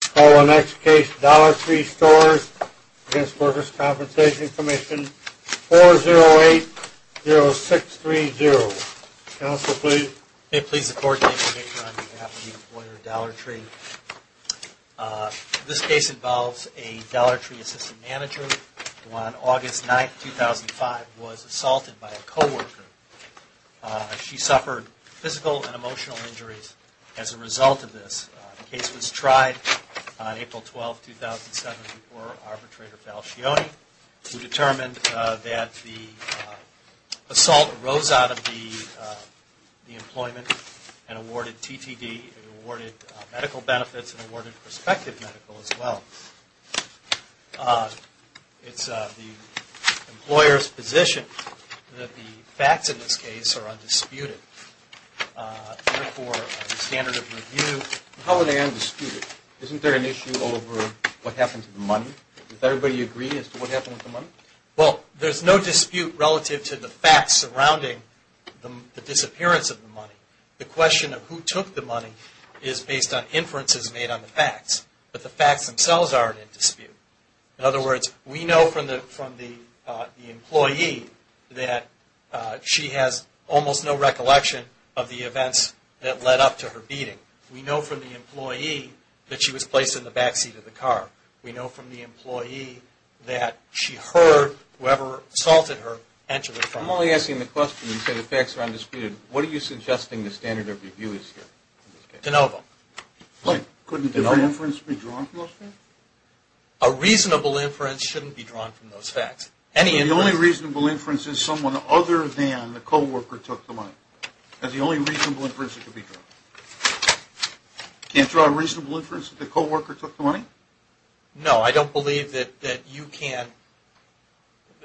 Call the next case, Dollar Tree Stores v. Workers' Compensation Commission, 4080630. Counsel, please. Okay, please, the court, on behalf of the employer Dollar Tree. This case involves a Dollar Tree assistant manager who on August 9, 2005, was assaulted by a co-worker. She suffered physical and emotional injuries as a result of this. The case was tried on April 12, 2007, before arbitrator Falcioni, who determined that the assault arose out of the employment and awarded TTD. It awarded medical benefits and awarded prospective medical as well. It's the employer's position that the facts in this case are undisputed. Therefore, the standard of review... How are they undisputed? Isn't there an issue over what happened to the money? Does everybody agree as to what happened with the money? Well, there's no dispute relative to the facts surrounding the disappearance of the money. The question of who took the money is based on inferences made on the facts. But the facts themselves aren't in dispute. In other words, we know from the employee that she has almost no recollection of the events that led up to her beating. We know from the employee that she was placed in the backseat of the car. We know from the employee that she heard whoever assaulted her enter the car. I'm only asking the question. You said the facts are undisputed. What are you suggesting the standard of review is here? De novo. Couldn't different inference be drawn from those facts? A reasonable inference shouldn't be drawn from those facts. The only reasonable inference is someone other than the co-worker took the money. That's the only reasonable inference that can be drawn. Can't draw a reasonable inference that the co-worker took the money? No, I don't believe that you can.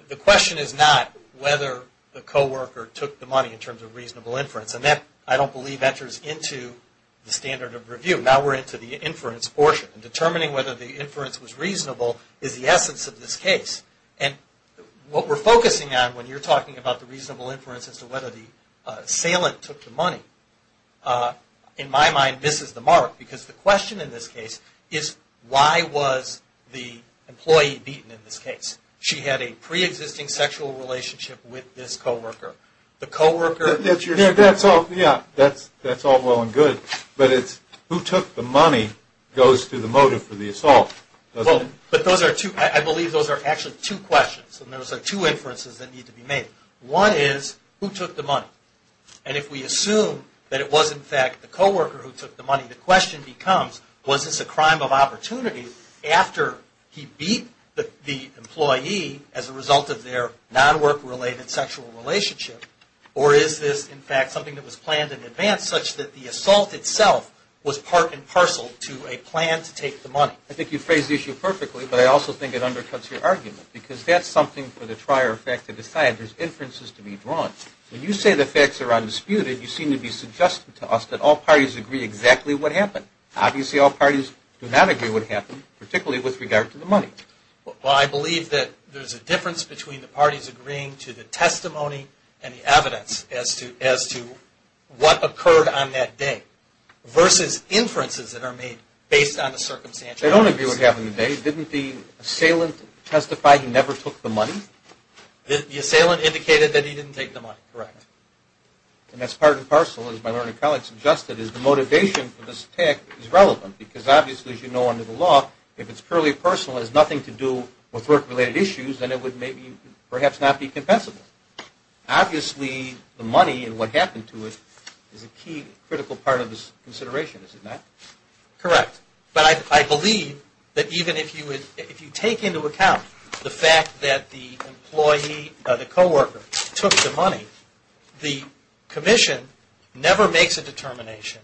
The question is not whether the co-worker took the money in terms of reasonable inference. And that, I don't believe, enters into the standard of review. Now we're into the inference portion. Determining whether the inference was reasonable is the essence of this case. And what we're focusing on when you're talking about the reasonable inference as to whether the employee beaten in this case. She had a pre-existing sexual relationship with this co-worker. That's all well and good. But it's who took the money goes to the motive for the assault. I believe those are actually two questions. And those are two inferences that need to be made. One is who took the money? And if we assume that it was, in fact, the co-worker who took the money, the question becomes, was this a crime of opportunity after he beat the employee as a result of their non-work-related sexual relationship? Or is this, in fact, something that was planned in advance such that the assault itself was part and parcel to a plan to take the money? I think you phrased the issue perfectly, but I also think it undercuts your argument. Because that's something for the trier effect to decide. There's inferences to be drawn. When you say the facts are undisputed, you seem to be suggesting to us that all parties agree exactly what happened. Obviously, all parties do not agree what happened, particularly with regard to the money. Well, I believe that there's a difference between the parties agreeing to the testimony and the evidence as to what occurred on that day versus inferences that are made based on the circumstances. They don't agree what happened that day. Didn't the assailant testify he never took the money? The assailant indicated that he didn't take the money, correct. And that's part and parcel, as my learned colleague suggested, is the motivation for this attack is relevant. Because obviously, as you know under the law, if it's purely personal and has nothing to do with work-related issues, then it would perhaps not be compensable. Obviously, the money and what happened to it is a key critical part of this consideration, is it not? Correct. But I believe that even if you take into account the fact that the co-worker took the money, the commission never makes a determination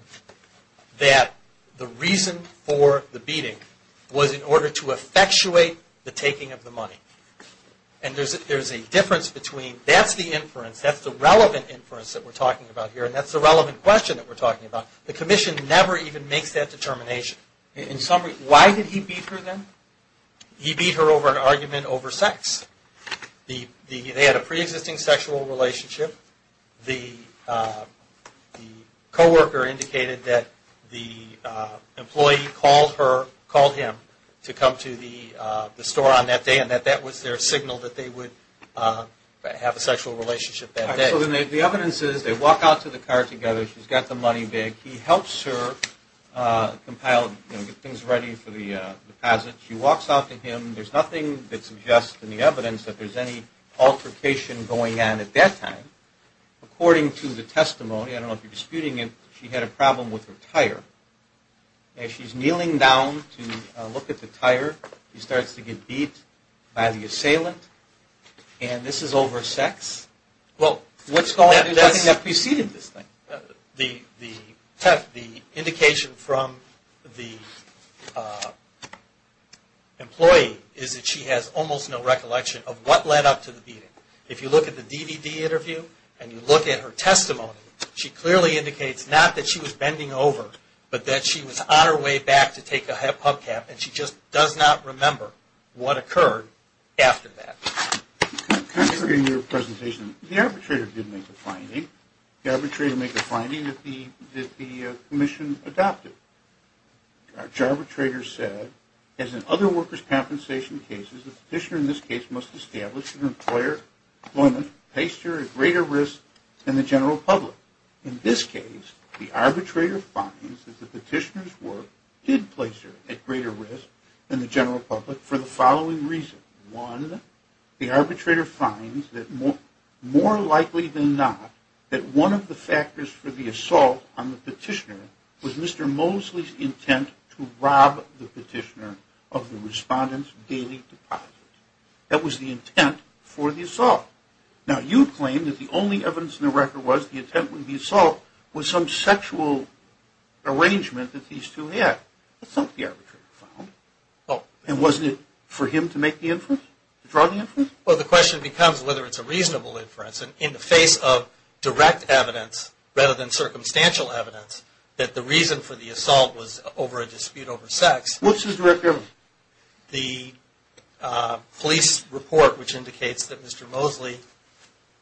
that the reason for the beating was in order to effectuate the taking of the money. And there's a difference between that's the inference, that's the relevant inference that we're talking about here, and that's the relevant question that we're talking about. The commission never even makes that determination. In summary, why did he beat her then? He beat her over an argument over sex. They had a pre-existing sexual relationship. The co-worker indicated that the employee called him to come to the store on that day and that that was their signal that they would have a sexual relationship that day. So the evidence is they walk out to the car together. She's got the money bag. He helps her compile, you know, get things ready for the deposit. She walks out to him. There's nothing that suggests in the evidence that there's any altercation going on at that time. According to the testimony, I don't know if you're disputing it, she had a problem with her tire. And she's kneeling down to look at the tire. He starts to get beat by the assailant. And this is over sex. Well, what's going on? Nothing that preceded this thing. The indication from the employee is that she has almost no recollection of what led up to the beating. If you look at the DVD interview and you look at her testimony, she clearly indicates not that she was bending over, but that she was on her way back to take a pub cap and she just does not remember what occurred after that. In your presentation, the arbitrator did make a finding. The arbitrator made the finding that the commission adopted. The arbitrator said, as in other workers' compensation cases, the petitioner in this case must establish an employer employment that places her at greater risk than the general public. In this case, the arbitrator finds that the petitioner's work did place her at greater risk than the general public for the following reason. One, the arbitrator finds that more likely than not, that one of the factors for the assault on the petitioner was Mr. Mosley's intent to rob the petitioner of the respondent's daily deposits. That was the intent for the assault. Now, you claim that the only evidence in the record was the intent of the assault was some sexual arrangement that these two had. That's not what the arbitrator found. And wasn't it for him to make the inference, to draw the inference? Well, the question becomes whether it's a reasonable inference. In the face of direct evidence rather than circumstantial evidence, that the reason for the assault was over a dispute over sex. What's the direct evidence? The police report, which indicates that Mr. Mosley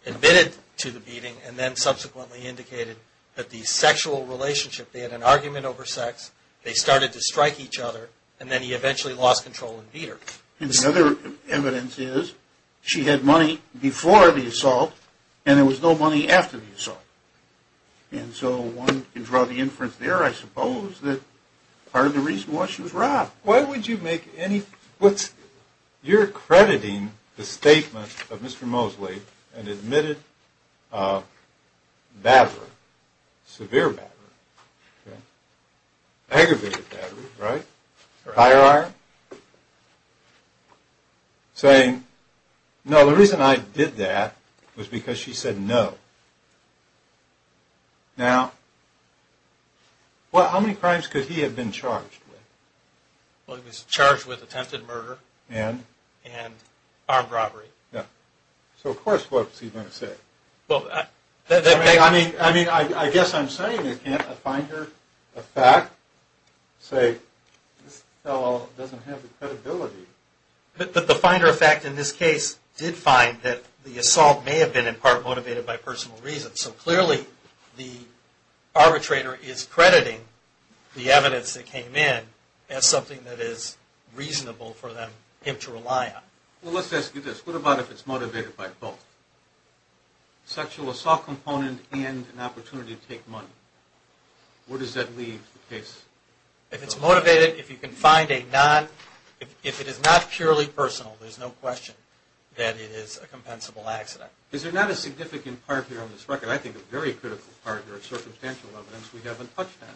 admitted to the beating and then subsequently indicated that the sexual relationship, they had an argument over sex, they started to strike each other, and then he eventually lost control and beat her. And the other evidence is she had money before the assault and there was no money after the assault. And so one can draw the inference there, I suppose, that part of the reason was she was robbed. Why would you make any – you're crediting the statement of Mr. Mosley and admitted battery, severe battery, aggravated battery, right? Higher iron? Saying, no, the reason I did that was because she said no. Now, how many crimes could he have been charged with? Well, he was charged with attempted murder. And? And armed robbery. So, of course, what was he going to say? I mean, I guess I'm saying, again, a finder of fact, say, this fellow doesn't have the credibility. But the finder of fact in this case did find that the assault may have been, in part, motivated by personal reasons. So clearly the arbitrator is crediting the evidence that came in as something that is reasonable for him to rely on. Well, let's ask you this. What about if it's motivated by both? Sexual assault component and an opportunity to take money. Where does that leave the case? If it's motivated, if you can find a non – if it is not purely personal, there's no question that it is a compensable accident. Is there not a significant part here on this record, I think a very critical part or circumstantial evidence we haven't touched on?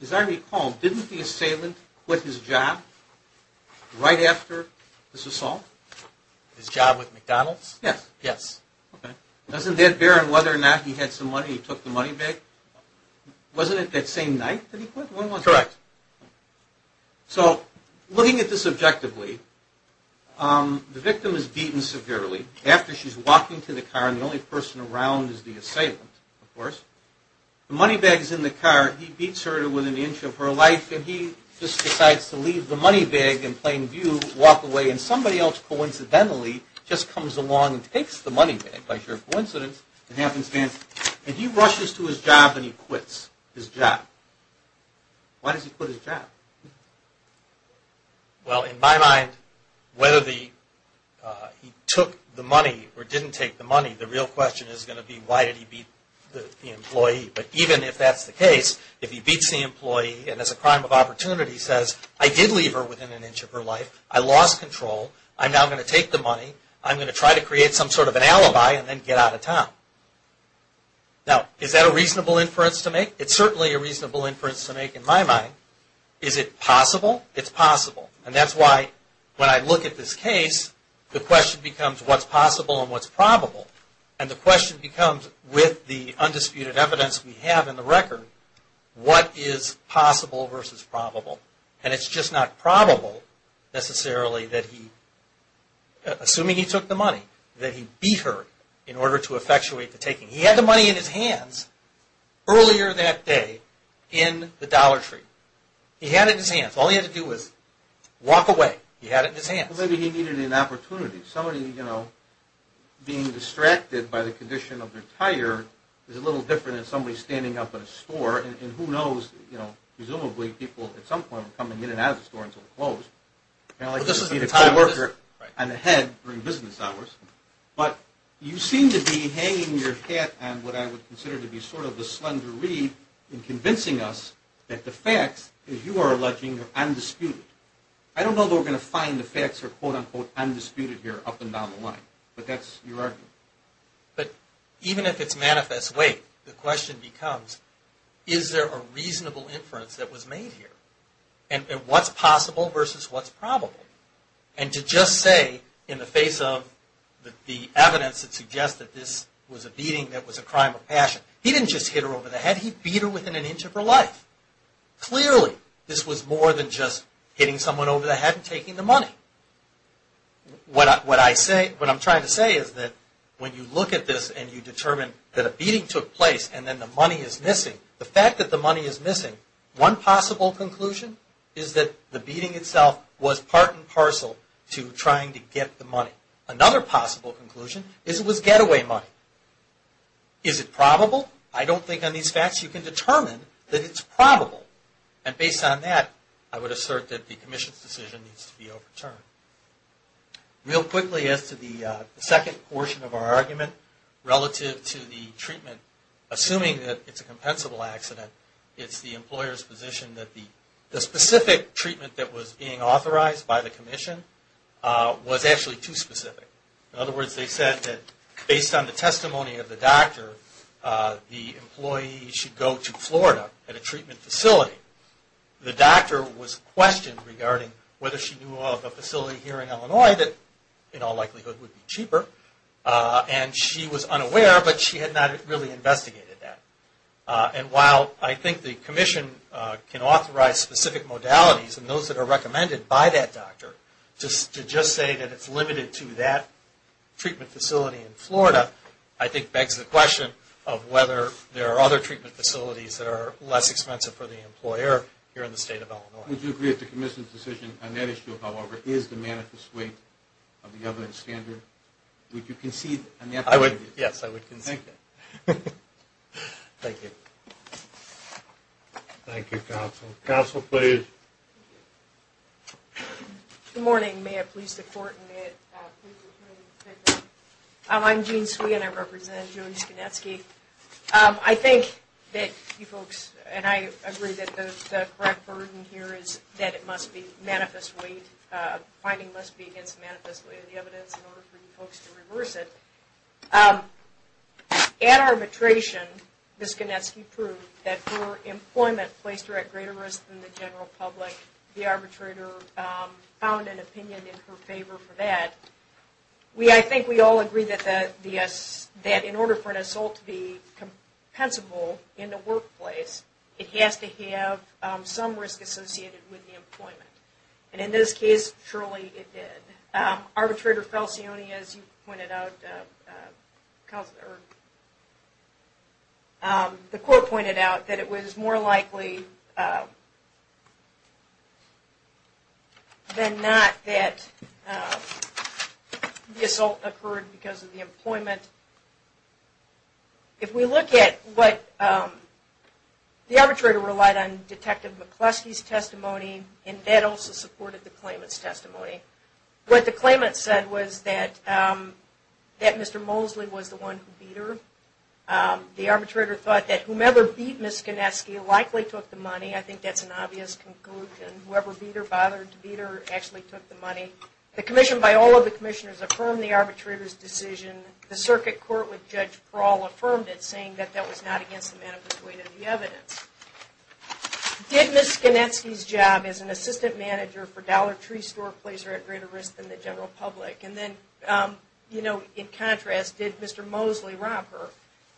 As I recall, didn't the assailant quit his job right after this assault? His job with McDonald's? Yes. Yes. Okay. Doesn't that bear on whether or not he had some money, he took the money back? Wasn't it that same night that he quit? Correct. So looking at this objectively, the victim is beaten severely. After she's walking to the car, and the only person around is the assailant, of course, the money bag is in the car. He beats her to within an inch of her life, and he just decides to leave the money bag in plain view, walk away, and somebody else coincidentally just comes along and takes the money bag, by pure coincidence and happenstance, and he rushes to his job and he quits his job. Why does he quit his job? Well, in my mind, whether he took the money or didn't take the money, the real question is going to be why did he beat the employee. But even if that's the case, if he beats the employee and as a crime of opportunity says, I did leave her within an inch of her life, I lost control, I'm now going to take the money, I'm going to try to create some sort of an alibi and then get out of town. Now, is that a reasonable inference to make? It's certainly a reasonable inference to make in my mind. Is it possible? It's possible, and that's why when I look at this case, the question becomes what's possible and what's probable, and the question becomes with the undisputed evidence we have in the record, what is possible versus probable? And it's just not probable necessarily that he, assuming he took the money, that he beat her in order to effectuate the taking. He had the money in his hands earlier that day in the Dollar Tree. He had it in his hands. All he had to do was walk away. He had it in his hands. Well, maybe he needed an opportunity. Somebody, you know, being distracted by the condition of their tire is a little different than somebody standing up at a store, and who knows, you know, presumably people at some point will come in and out of the store until they're closed. Well, this is a tire worker. And a head during business hours. But you seem to be hanging your hat on what I would consider to be sort of the slender reed in convincing us that the facts, as you are alleging, are undisputed. I don't know that we're going to find the facts are, quote, unquote, undisputed here up and down the line, but that's your argument. But even if it's manifest, wait, the question becomes, is there a reasonable inference that was made here? And what's possible versus what's probable? And to just say in the face of the evidence that suggests that this was a beating that was a crime of passion, he didn't just hit her over the head. He beat her within an inch of her life. Clearly, this was more than just hitting someone over the head and taking the money. What I'm trying to say is that when you look at this and you determine that a beating took place and then the money is missing, the fact that the money is missing, one possible conclusion is that the beating itself was part and parcel to trying to get the money. Another possible conclusion is it was getaway money. Is it probable? I don't think on these facts you can determine that it's probable. And based on that, I would assert that the commission's decision needs to be overturned. Real quickly as to the second portion of our argument relative to the treatment, assuming that it's a compensable accident, it's the employer's position that the specific treatment that was being authorized by the commission was actually too specific. In other words, they said that based on the testimony of the doctor, the employee should go to Florida at a treatment facility. The doctor was questioned regarding whether she knew of a facility here in Illinois that in all likelihood would be cheaper, and she was unaware, but she had not really investigated that. And while I think the commission can authorize specific modalities and those that are recommended by that doctor, to just say that it's limited to that treatment facility in Florida, I think begs the question of whether there are other treatment facilities that are less expensive for the employer here in the state of Illinois. Would you agree that the commission's decision on that issue, however, is the manifest way of the evidence standard? Would you concede on that point? Yes, I would concede. Thank you. Thank you, counsel. Counsel, please. Good morning. May it please the court and may it please the committee. I'm Jean Swee and I represent Jody Skinetsky. I think that you folks and I agree that the correct burden here is that it must be manifest way, the finding must be against the manifest way of the evidence in order for you folks to reverse it. At arbitration, Ms. Skinetsky proved that her employment placed her at greater risk than the general public. The arbitrator found an opinion in her favor for that. I think we all agree that in order for an assault to be compensable in the workplace, it has to have some risk associated with the employment. And in this case, surely it did. Arbitrator Falcioni, as you pointed out, the court pointed out that it was more likely than not that the assault occurred because of the employment. If we look at what the arbitrator relied on Detective McCluskey's testimony and that also supported the claimant's testimony. What the claimant said was that Mr. Mosley was the one who beat her. The arbitrator thought that whomever beat Ms. Skinetsky likely took the money. I think that's an obvious conclusion. Whoever beat her bothered to beat her actually took the money. The commission by all of the commissioners affirmed the arbitrator's decision. The circuit court with Judge Prawl affirmed it saying that that was not against the manifest way of the evidence. Did Ms. Skinetsky's job as an assistant manager for Dollar Tree store place her at greater risk than the general public? And then, in contrast, did Mr. Mosley rob her?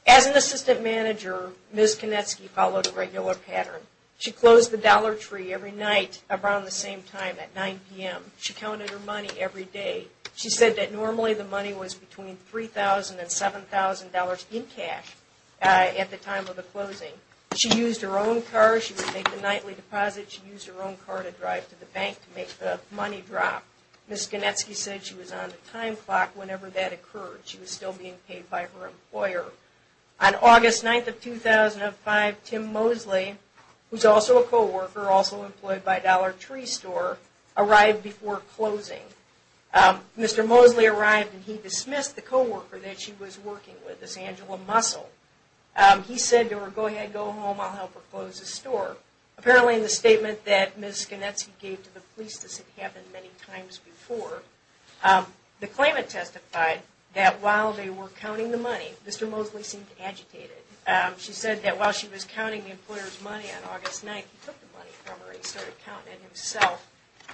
As an assistant manager, Ms. Skinetsky followed a regular pattern. She closed the Dollar Tree every night around the same time at 9 p.m. She counted her money every day. She said that normally the money was between $3,000 and $7,000 in cash at the time of the closing. She used her own car. She would make the nightly deposit. She used her own car to drive to the bank to make the money drop. Ms. Skinetsky said she was on the time clock whenever that occurred. She was still being paid by her employer. On August 9th of 2005, Tim Mosley, who's also a co-worker, also employed by Dollar Tree store, arrived before closing. Mr. Mosley arrived and he dismissed the co-worker that she was working with, Miss Angela Muscle. He said to her, go ahead, go home, I'll help her close the store. Apparently, in the statement that Ms. Skinetsky gave to the police, this had happened many times before, the claimant testified that while they were counting the money, Mr. Mosley seemed agitated. She said that while she was counting the employer's money on August 9th, he took the money from her and he started counting it himself.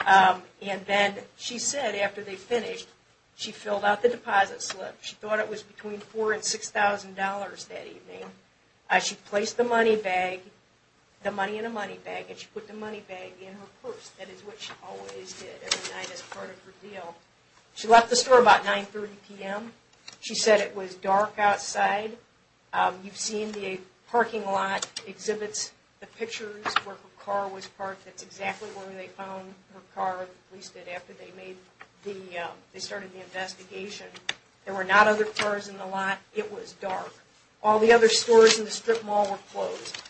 And then, she said, after they finished, she filled out the deposit slip. She thought it was between $4,000 and $6,000 that evening. She placed the money in a money bag and she put the money bag in her purse. That is what she always did every night as part of her deal. She left the store about 9.30 p.m. She said it was dark outside. You've seen the parking lot exhibits the pictures where her car was parked. That's exactly where they found her car, at least after they started the investigation. There were not other cars in the lot. It was dark. All the other stores in the strip mall were closed.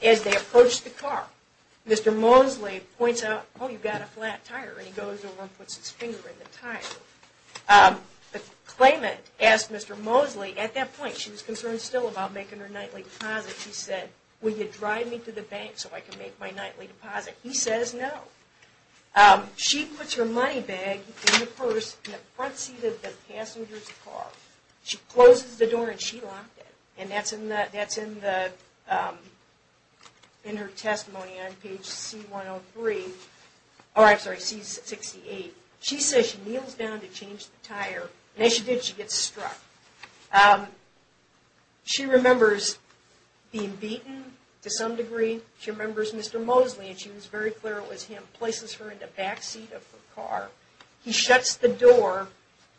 As they approached the car, Mr. Mosley points out, oh, you've got a flat tire. And he goes over and puts his finger in the tire. The claimant asked Mr. Mosley, at that point, she was concerned still about making her nightly deposit. She said, will you drive me to the bank so I can make my nightly deposit? He says no. She puts her money bag in the purse in the front seat of the passenger's car. She closes the door and she locked it. And that's in her testimony on page C-68. She says she kneels down to change the tire. And as she did, she gets struck. She remembers being beaten to some degree. She remembers Mr. Mosley, and she was very clear it was him, places her in the back seat of the car. He shuts the door.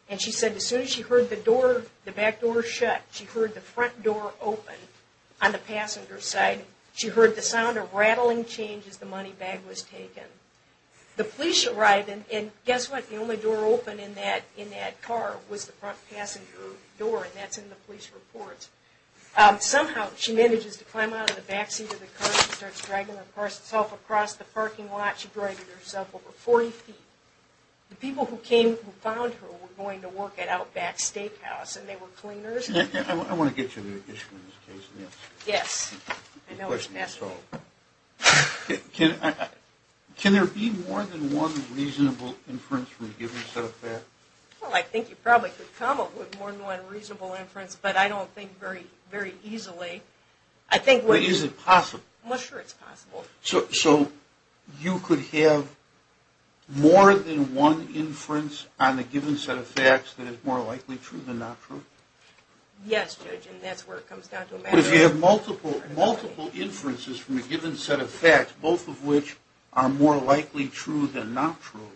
And she said as soon as she heard the back door shut, she heard the front door open on the passenger's side. She heard the sound of rattling change as the money bag was taken. The police arrived. And guess what? The only door open in that car was the front passenger door. And that's in the police report. Somehow she manages to climb out of the back seat of the car. She starts dragging herself across the parking lot. She dragged herself over 40 feet. The people who found her were going to work at Outback Steakhouse, and they were cleaners. I want to get you to an issue in this case. Yes. I know it's past me. Can there be more than one reasonable inference from a given set of facts? Well, I think you probably could come up with more than one reasonable inference, but I don't think very easily. But is it possible? Well, sure it's possible. So you could have more than one inference on a given set of facts that is more likely true than not true? Yes, Judge, and that's where it comes down to a matter of probability. But if you have multiple inferences from a given set of facts, both of which are more likely true than not true,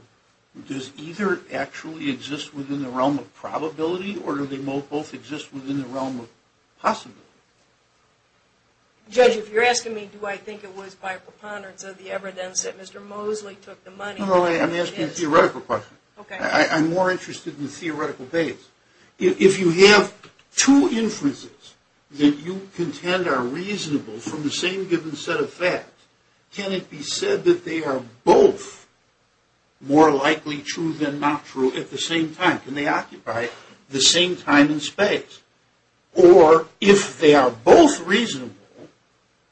does either actually exist within the realm of probability, or do they both exist within the realm of possibility? Judge, if you're asking me do I think it was by preponderance of the evidence that Mr. Mosley took the money. No, no, I'm asking a theoretical question. Okay. I'm more interested in the theoretical base. If you have two inferences that you contend are reasonable from the same given set of facts, can it be said that they are both more likely true than not true at the same time? Can they occupy the same time and space? Or if they are both reasonable,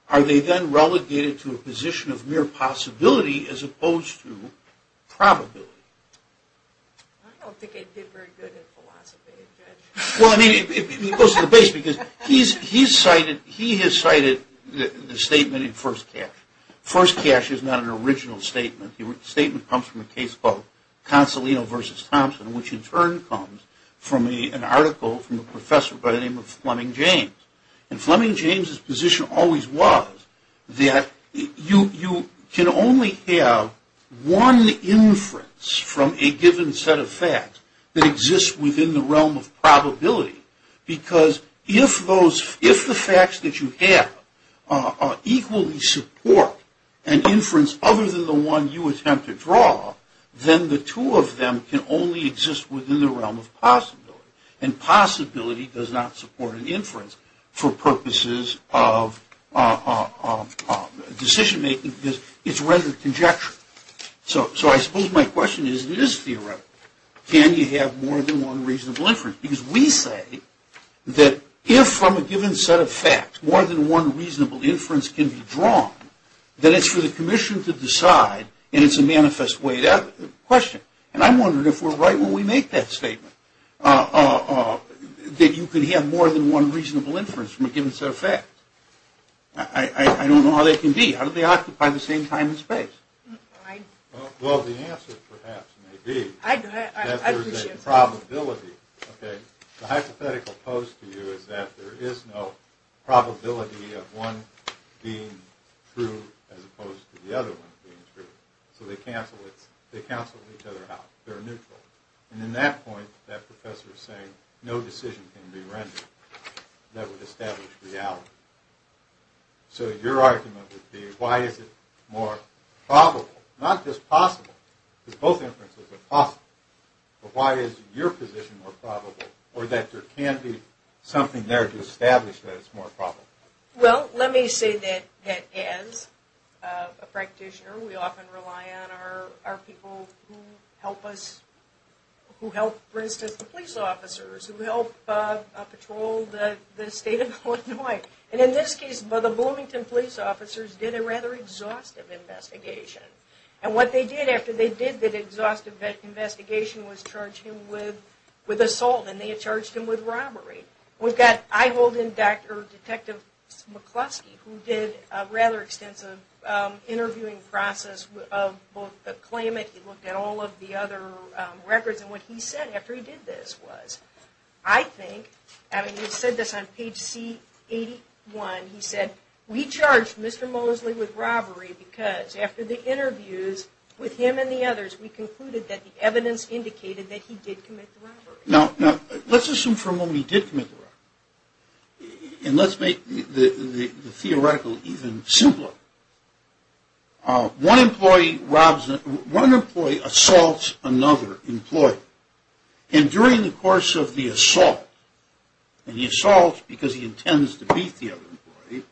are they then relegated to a position of mere possibility as opposed to probability? I don't think I did very good at philosophy, Judge. Well, I mean, it goes to the base because he has cited the statement in First Cash. First Cash is not an original statement. The statement comes from a case called Consolino v. Thompson, which in turn comes from an article from a professor by the name of Fleming James. And Fleming James' position always was that you can only have one inference from a given set of facts that exists within the realm of probability. Because if the facts that you have equally support an inference other than the one you attempt to draw, then the two of them can only exist within the realm of possibility. And possibility does not support an inference for purposes of decision-making because it's rendered conjecture. So I suppose my question is, it is theoretical. Can you have more than one reasonable inference? Because we say that if from a given set of facts more than one reasonable inference can be drawn, then it's for the commission to decide and it's a manifest way to question. And I'm wondering if we're right when we make that statement, that you could have more than one reasonable inference from a given set of facts. I don't know how that can be. How do they occupy the same time and space? Well, the answer perhaps may be that there's a probability. The hypothetical pose to you is that there is no probability of one being true as opposed to the other one being true. So they cancel each other out. They're neutral. And in that point, that professor is saying no decision can be rendered that would establish reality. So your argument would be, why is it more probable? Not just possible, because both inferences are possible. But why is your position more probable? Or that there can be something there to establish that it's more probable? Well, let me say that as a practitioner, we often rely on our people who help us, who help patrol the state of Illinois. And in this case, the Bloomington police officers did a rather exhaustive investigation. And what they did after they did that exhaustive investigation was charge him with assault. And they charged him with robbery. We've got eye-holding detective McCluskey who did a rather extensive interviewing process of both the claimant. He looked at all of the other records. And what he said after he did this was, I think, I mean, he said this on page C81. He said, we charged Mr. Mosley with robbery because after the interviews with him and the others, we concluded that the evidence indicated that he did commit the robbery. Now, let's assume for a moment he did commit the robbery. And let's make the theoretical even simpler. One employee assaults another employee. And during the course of the assault, and the assault because he intends to beat the other employee,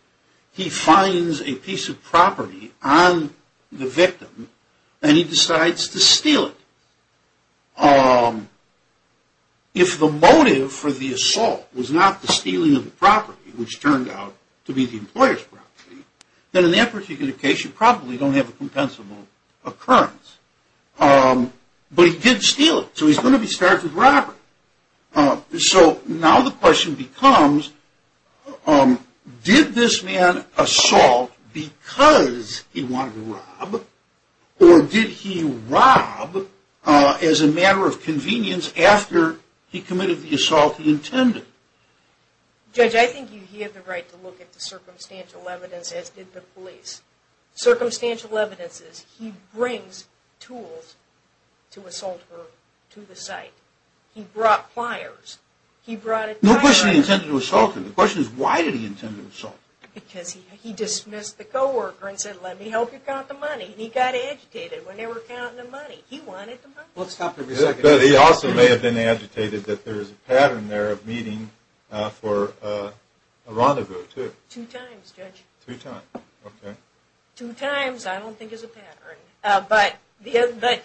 he finds a piece of property on the victim and he decides to steal it. If the motive for the assault was not the stealing of the property, which turned out to be the employer's property, then in that particular case you probably don't have a compensable occurrence. But he did steal it, so he's going to be charged with robbery. So now the question becomes, did this man assault because he wanted to rob, or did he rob as a matter of convenience after he committed the assault he intended? Judge, I think you have the right to look at the circumstantial evidence, as did the police. Circumstantial evidence is he brings tools to assault her to the site. He brought pliers. No question he intended to assault her. The question is, why did he intend to assault her? Because he dismissed the co-worker and said, let me help you count the money. And he got agitated when they were counting the money. He wanted the money. He also may have been agitated that there's a pattern there of meeting for a rendezvous, too. Two times, Judge. Three times, okay. Two times I don't think is a pattern. But this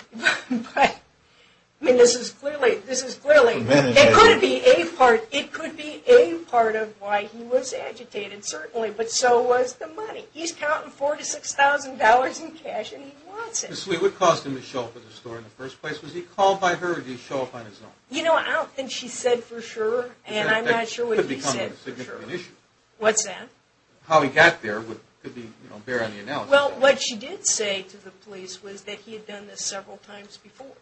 is clearly, it could be a part of why he was agitated, certainly, but so was the money. He's counting $4,000 to $6,000 in cash and he wants it. Obviously, what caused him to show up at the store in the first place? Was he called by her or did he show up on his own? You know, I don't think she said for sure, and I'm not sure what he said. That could become a significant issue. What's that? How he got there could be, you know, bear on the analysis. Well, what she did say to the police was that he had done this several times before.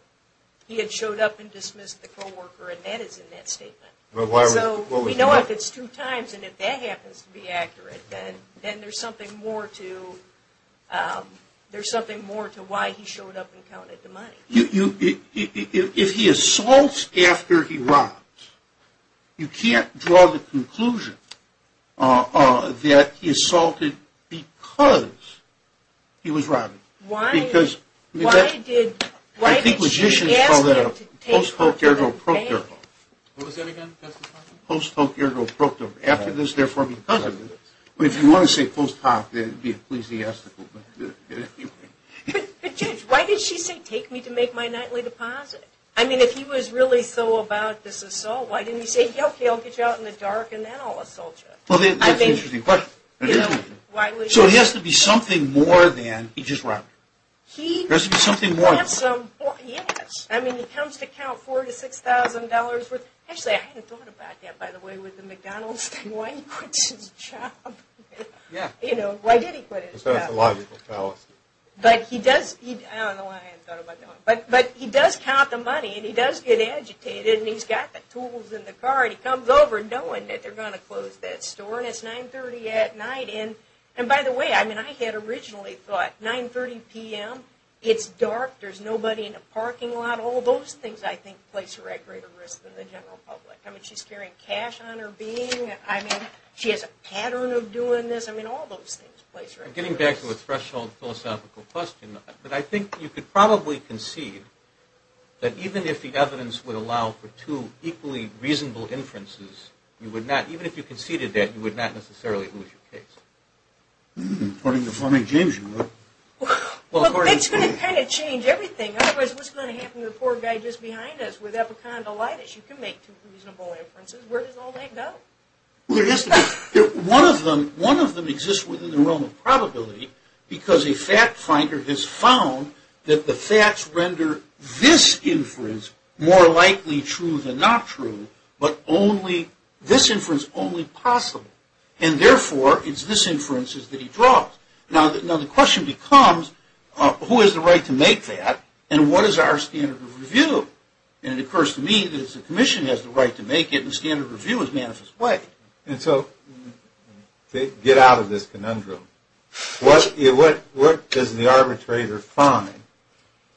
He had showed up and dismissed the co-worker, and that is in that statement. So we know if it's two times and if that happens to be accurate, then there's something more to why he showed up and counted the money. If he assaults after he robs, you can't draw the conclusion that he assaulted because he was robbing. Why did she ask him to take her to the bank? What was that again? Post hoc ergo proctum. After this, therefore, because of this. But if you want to say post hoc, then it would be ecclesiastical. But, Judge, why did she say take me to make my nightly deposit? I mean, if he was really so about this assault, why didn't he say, okay, I'll get you out in the dark and then I'll assault you? Well, that's an interesting question. So it has to be something more than he just robbed her. There has to be something more. Yes. I mean, he comes to count $4,000 to $6,000 worth. Actually, I hadn't thought about that, by the way, with the McDonald's thing. Why did he quit his job? Yeah. You know, why did he quit his job? That's a logical fallacy. But he does, I don't know why I hadn't thought about that. But he does count the money and he does get agitated and he's got the tools in the car and he comes over knowing that they're going to close that store and it's 9.30 at night. And by the way, I mean, I had originally thought 9.30 p.m., it's dark, there's nobody in the parking lot. All those things, I think, place her at greater risk than the general public. I mean, she's carrying cash on her being. I mean, she has a pattern of doing this. I mean, all those things place her at greater risk. Getting back to the threshold philosophical question, but I think you could probably concede that even if the evidence would allow for two equally reasonable inferences, you would not, even if you conceded that, you would not necessarily lose your case. According to Fleming James, you would. Well, that's going to kind of change everything. Otherwise, what's going to happen to the poor guy just behind us with epicondylitis? You can make two reasonable inferences. Where does all that go? Well, there has to be. One of them exists within the realm of probability because a fact finder has found that the facts render this inference more likely true than not true, but this inference only possible. And therefore, it's this inference that he draws. Now, the question becomes who has the right to make that and what is our standard of review? And it occurs to me that the commission has the right to make it and the standard of review is manifest way. And so get out of this conundrum. What does the arbitrator find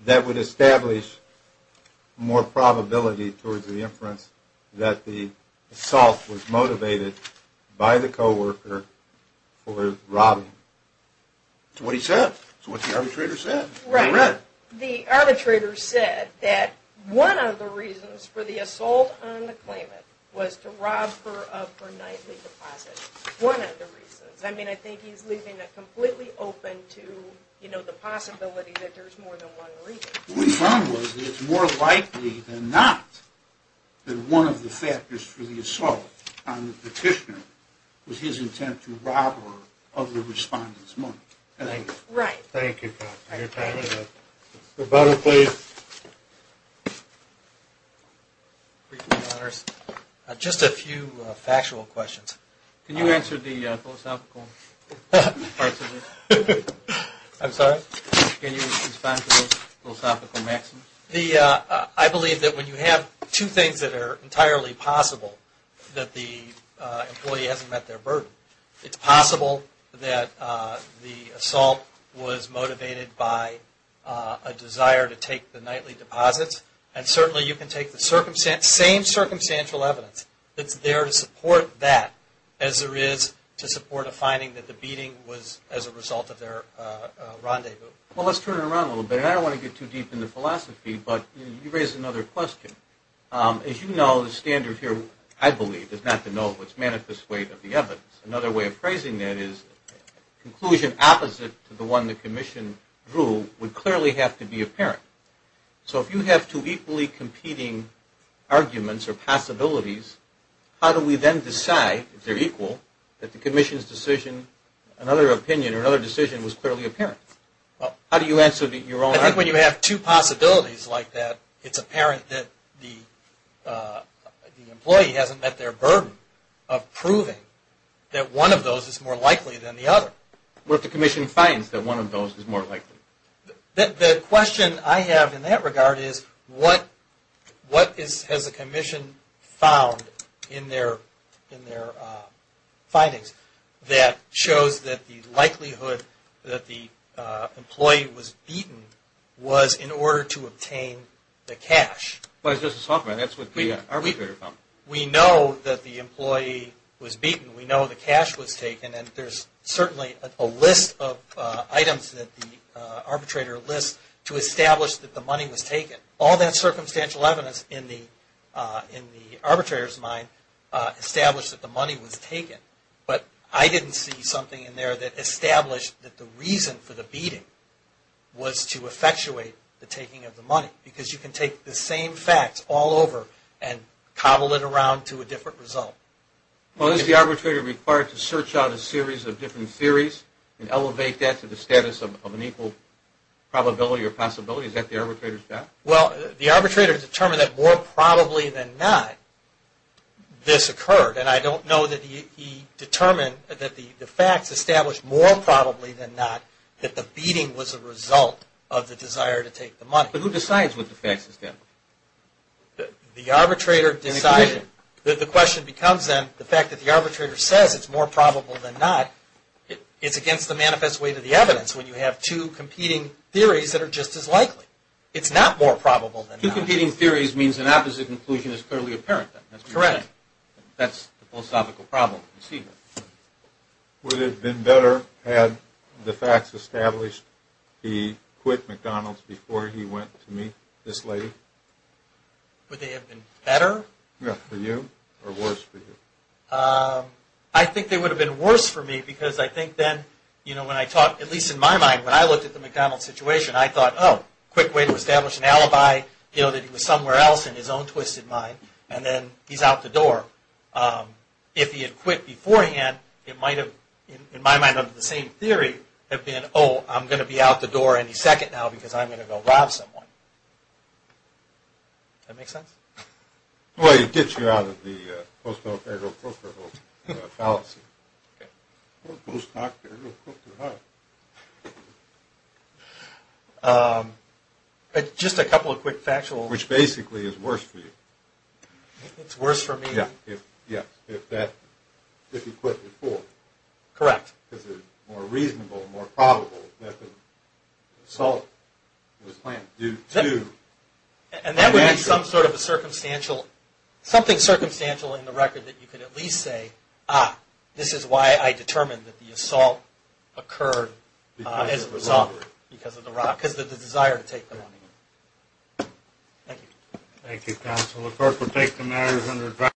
that would establish more probability towards the inference that the assault was motivated by the coworker for robbing him? It's what he said. It's what the arbitrator said. Right. He read. The arbitrator said that one of the reasons for the assault on the claimant was to rob her of her nightly deposit. One of the reasons. I mean, I think he's leaving it completely open to, you know, the possibility that there's more than one reason. What he found was that it's more likely than not that one of the factors for the assault on the petitioner was his intent to rob her of the respondent's money. Right. Thank you. Thank you. Rebuttal, please. Just a few factual questions. Can you answer the philosophical parts of it? I'm sorry? Can you respond to those philosophical maxims? I believe that when you have two things that are entirely possible, that the employee hasn't met their burden. It's possible that the assault was motivated by a desire to take the nightly deposits, and certainly you can take the same circumstantial evidence that's there to support that as there is to support a finding that the beating was as a result of their rendezvous. Well, let's turn it around a little bit. I don't want to get too deep into philosophy, but you raise another question. As you know, the standard here, I believe, is not to know what's manifest weight of the evidence. Another way of phrasing that is conclusion opposite to the one the commission drew would clearly have to be apparent. So if you have two equally competing arguments or possibilities, how do we then decide, if they're equal, that the commission's decision, another opinion or another decision was clearly apparent? How do you answer your own argument? I think when you have two possibilities like that, it's apparent that the employee hasn't met their burden of proving that one of those is more likely than the other. What if the commission finds that one of those is more likely? The question I have in that regard is what has the commission found in their findings that shows that the likelihood that the employee was beaten was in order to obtain the cash? Well, as Justice Hoffman, that's what the arbitrator found. We know that the employee was beaten. We know the cash was taken. And there's certainly a list of items that the arbitrator lists to establish that the money was taken. All that circumstantial evidence in the arbitrator's mind established that the money was taken. But I didn't see something in there that established that the reason for the beating was to effectuate the taking of the money, because you can take the same facts all over and cobble it around to a different result. Well, is the arbitrator required to search out a series of different theories and elevate that to the status of an equal probability or possibility? Is that the arbitrator's job? Well, the arbitrator determined that more probably than not, this occurred. And I don't know that he determined that the facts established more probably than not that the beating was a result of the desire to take the money. But who decides what the facts establish? The arbitrator decided. The question becomes then, the fact that the arbitrator says it's more probable than not, it's against the manifest way to the evidence when you have two competing theories that are just as likely. It's not more probable than not. Two competing theories means an opposite conclusion is clearly apparent. That's correct. That's the philosophical problem. Would it have been better had the facts established he quit McDonald's before he went to meet this lady? Would they have been better? Yes, for you, or worse for you? I think they would have been worse for me, because I think then, you know, when I talk, at least in my mind, when I looked at the McDonald's situation, I thought, oh, quick way to establish an alibi, you know, that he was somewhere else in his own twisted mind, and then he's out the door. If he had quit beforehand, it might have, in my mind, under the same theory, have been, oh, I'm going to be out the door any second now, because I'm going to go rob someone. Does that make sense? Well, it gets you out of the post-military brokerable fallacy. Okay. Post-military brokerable. Just a couple of quick factual. Which basically is worse for you. It's worse for me. Yes, if that, if he quit before. Correct. Because it's more reasonable, more probable that the assault was planned due to. And that would be some sort of a circumstantial, something circumstantial in the record that you could at least say, ah, this is why I determined that the assault occurred as a result, because of the desire to take the money. Thank you. Thank you, counsel. The clerk will take the matters under advisory.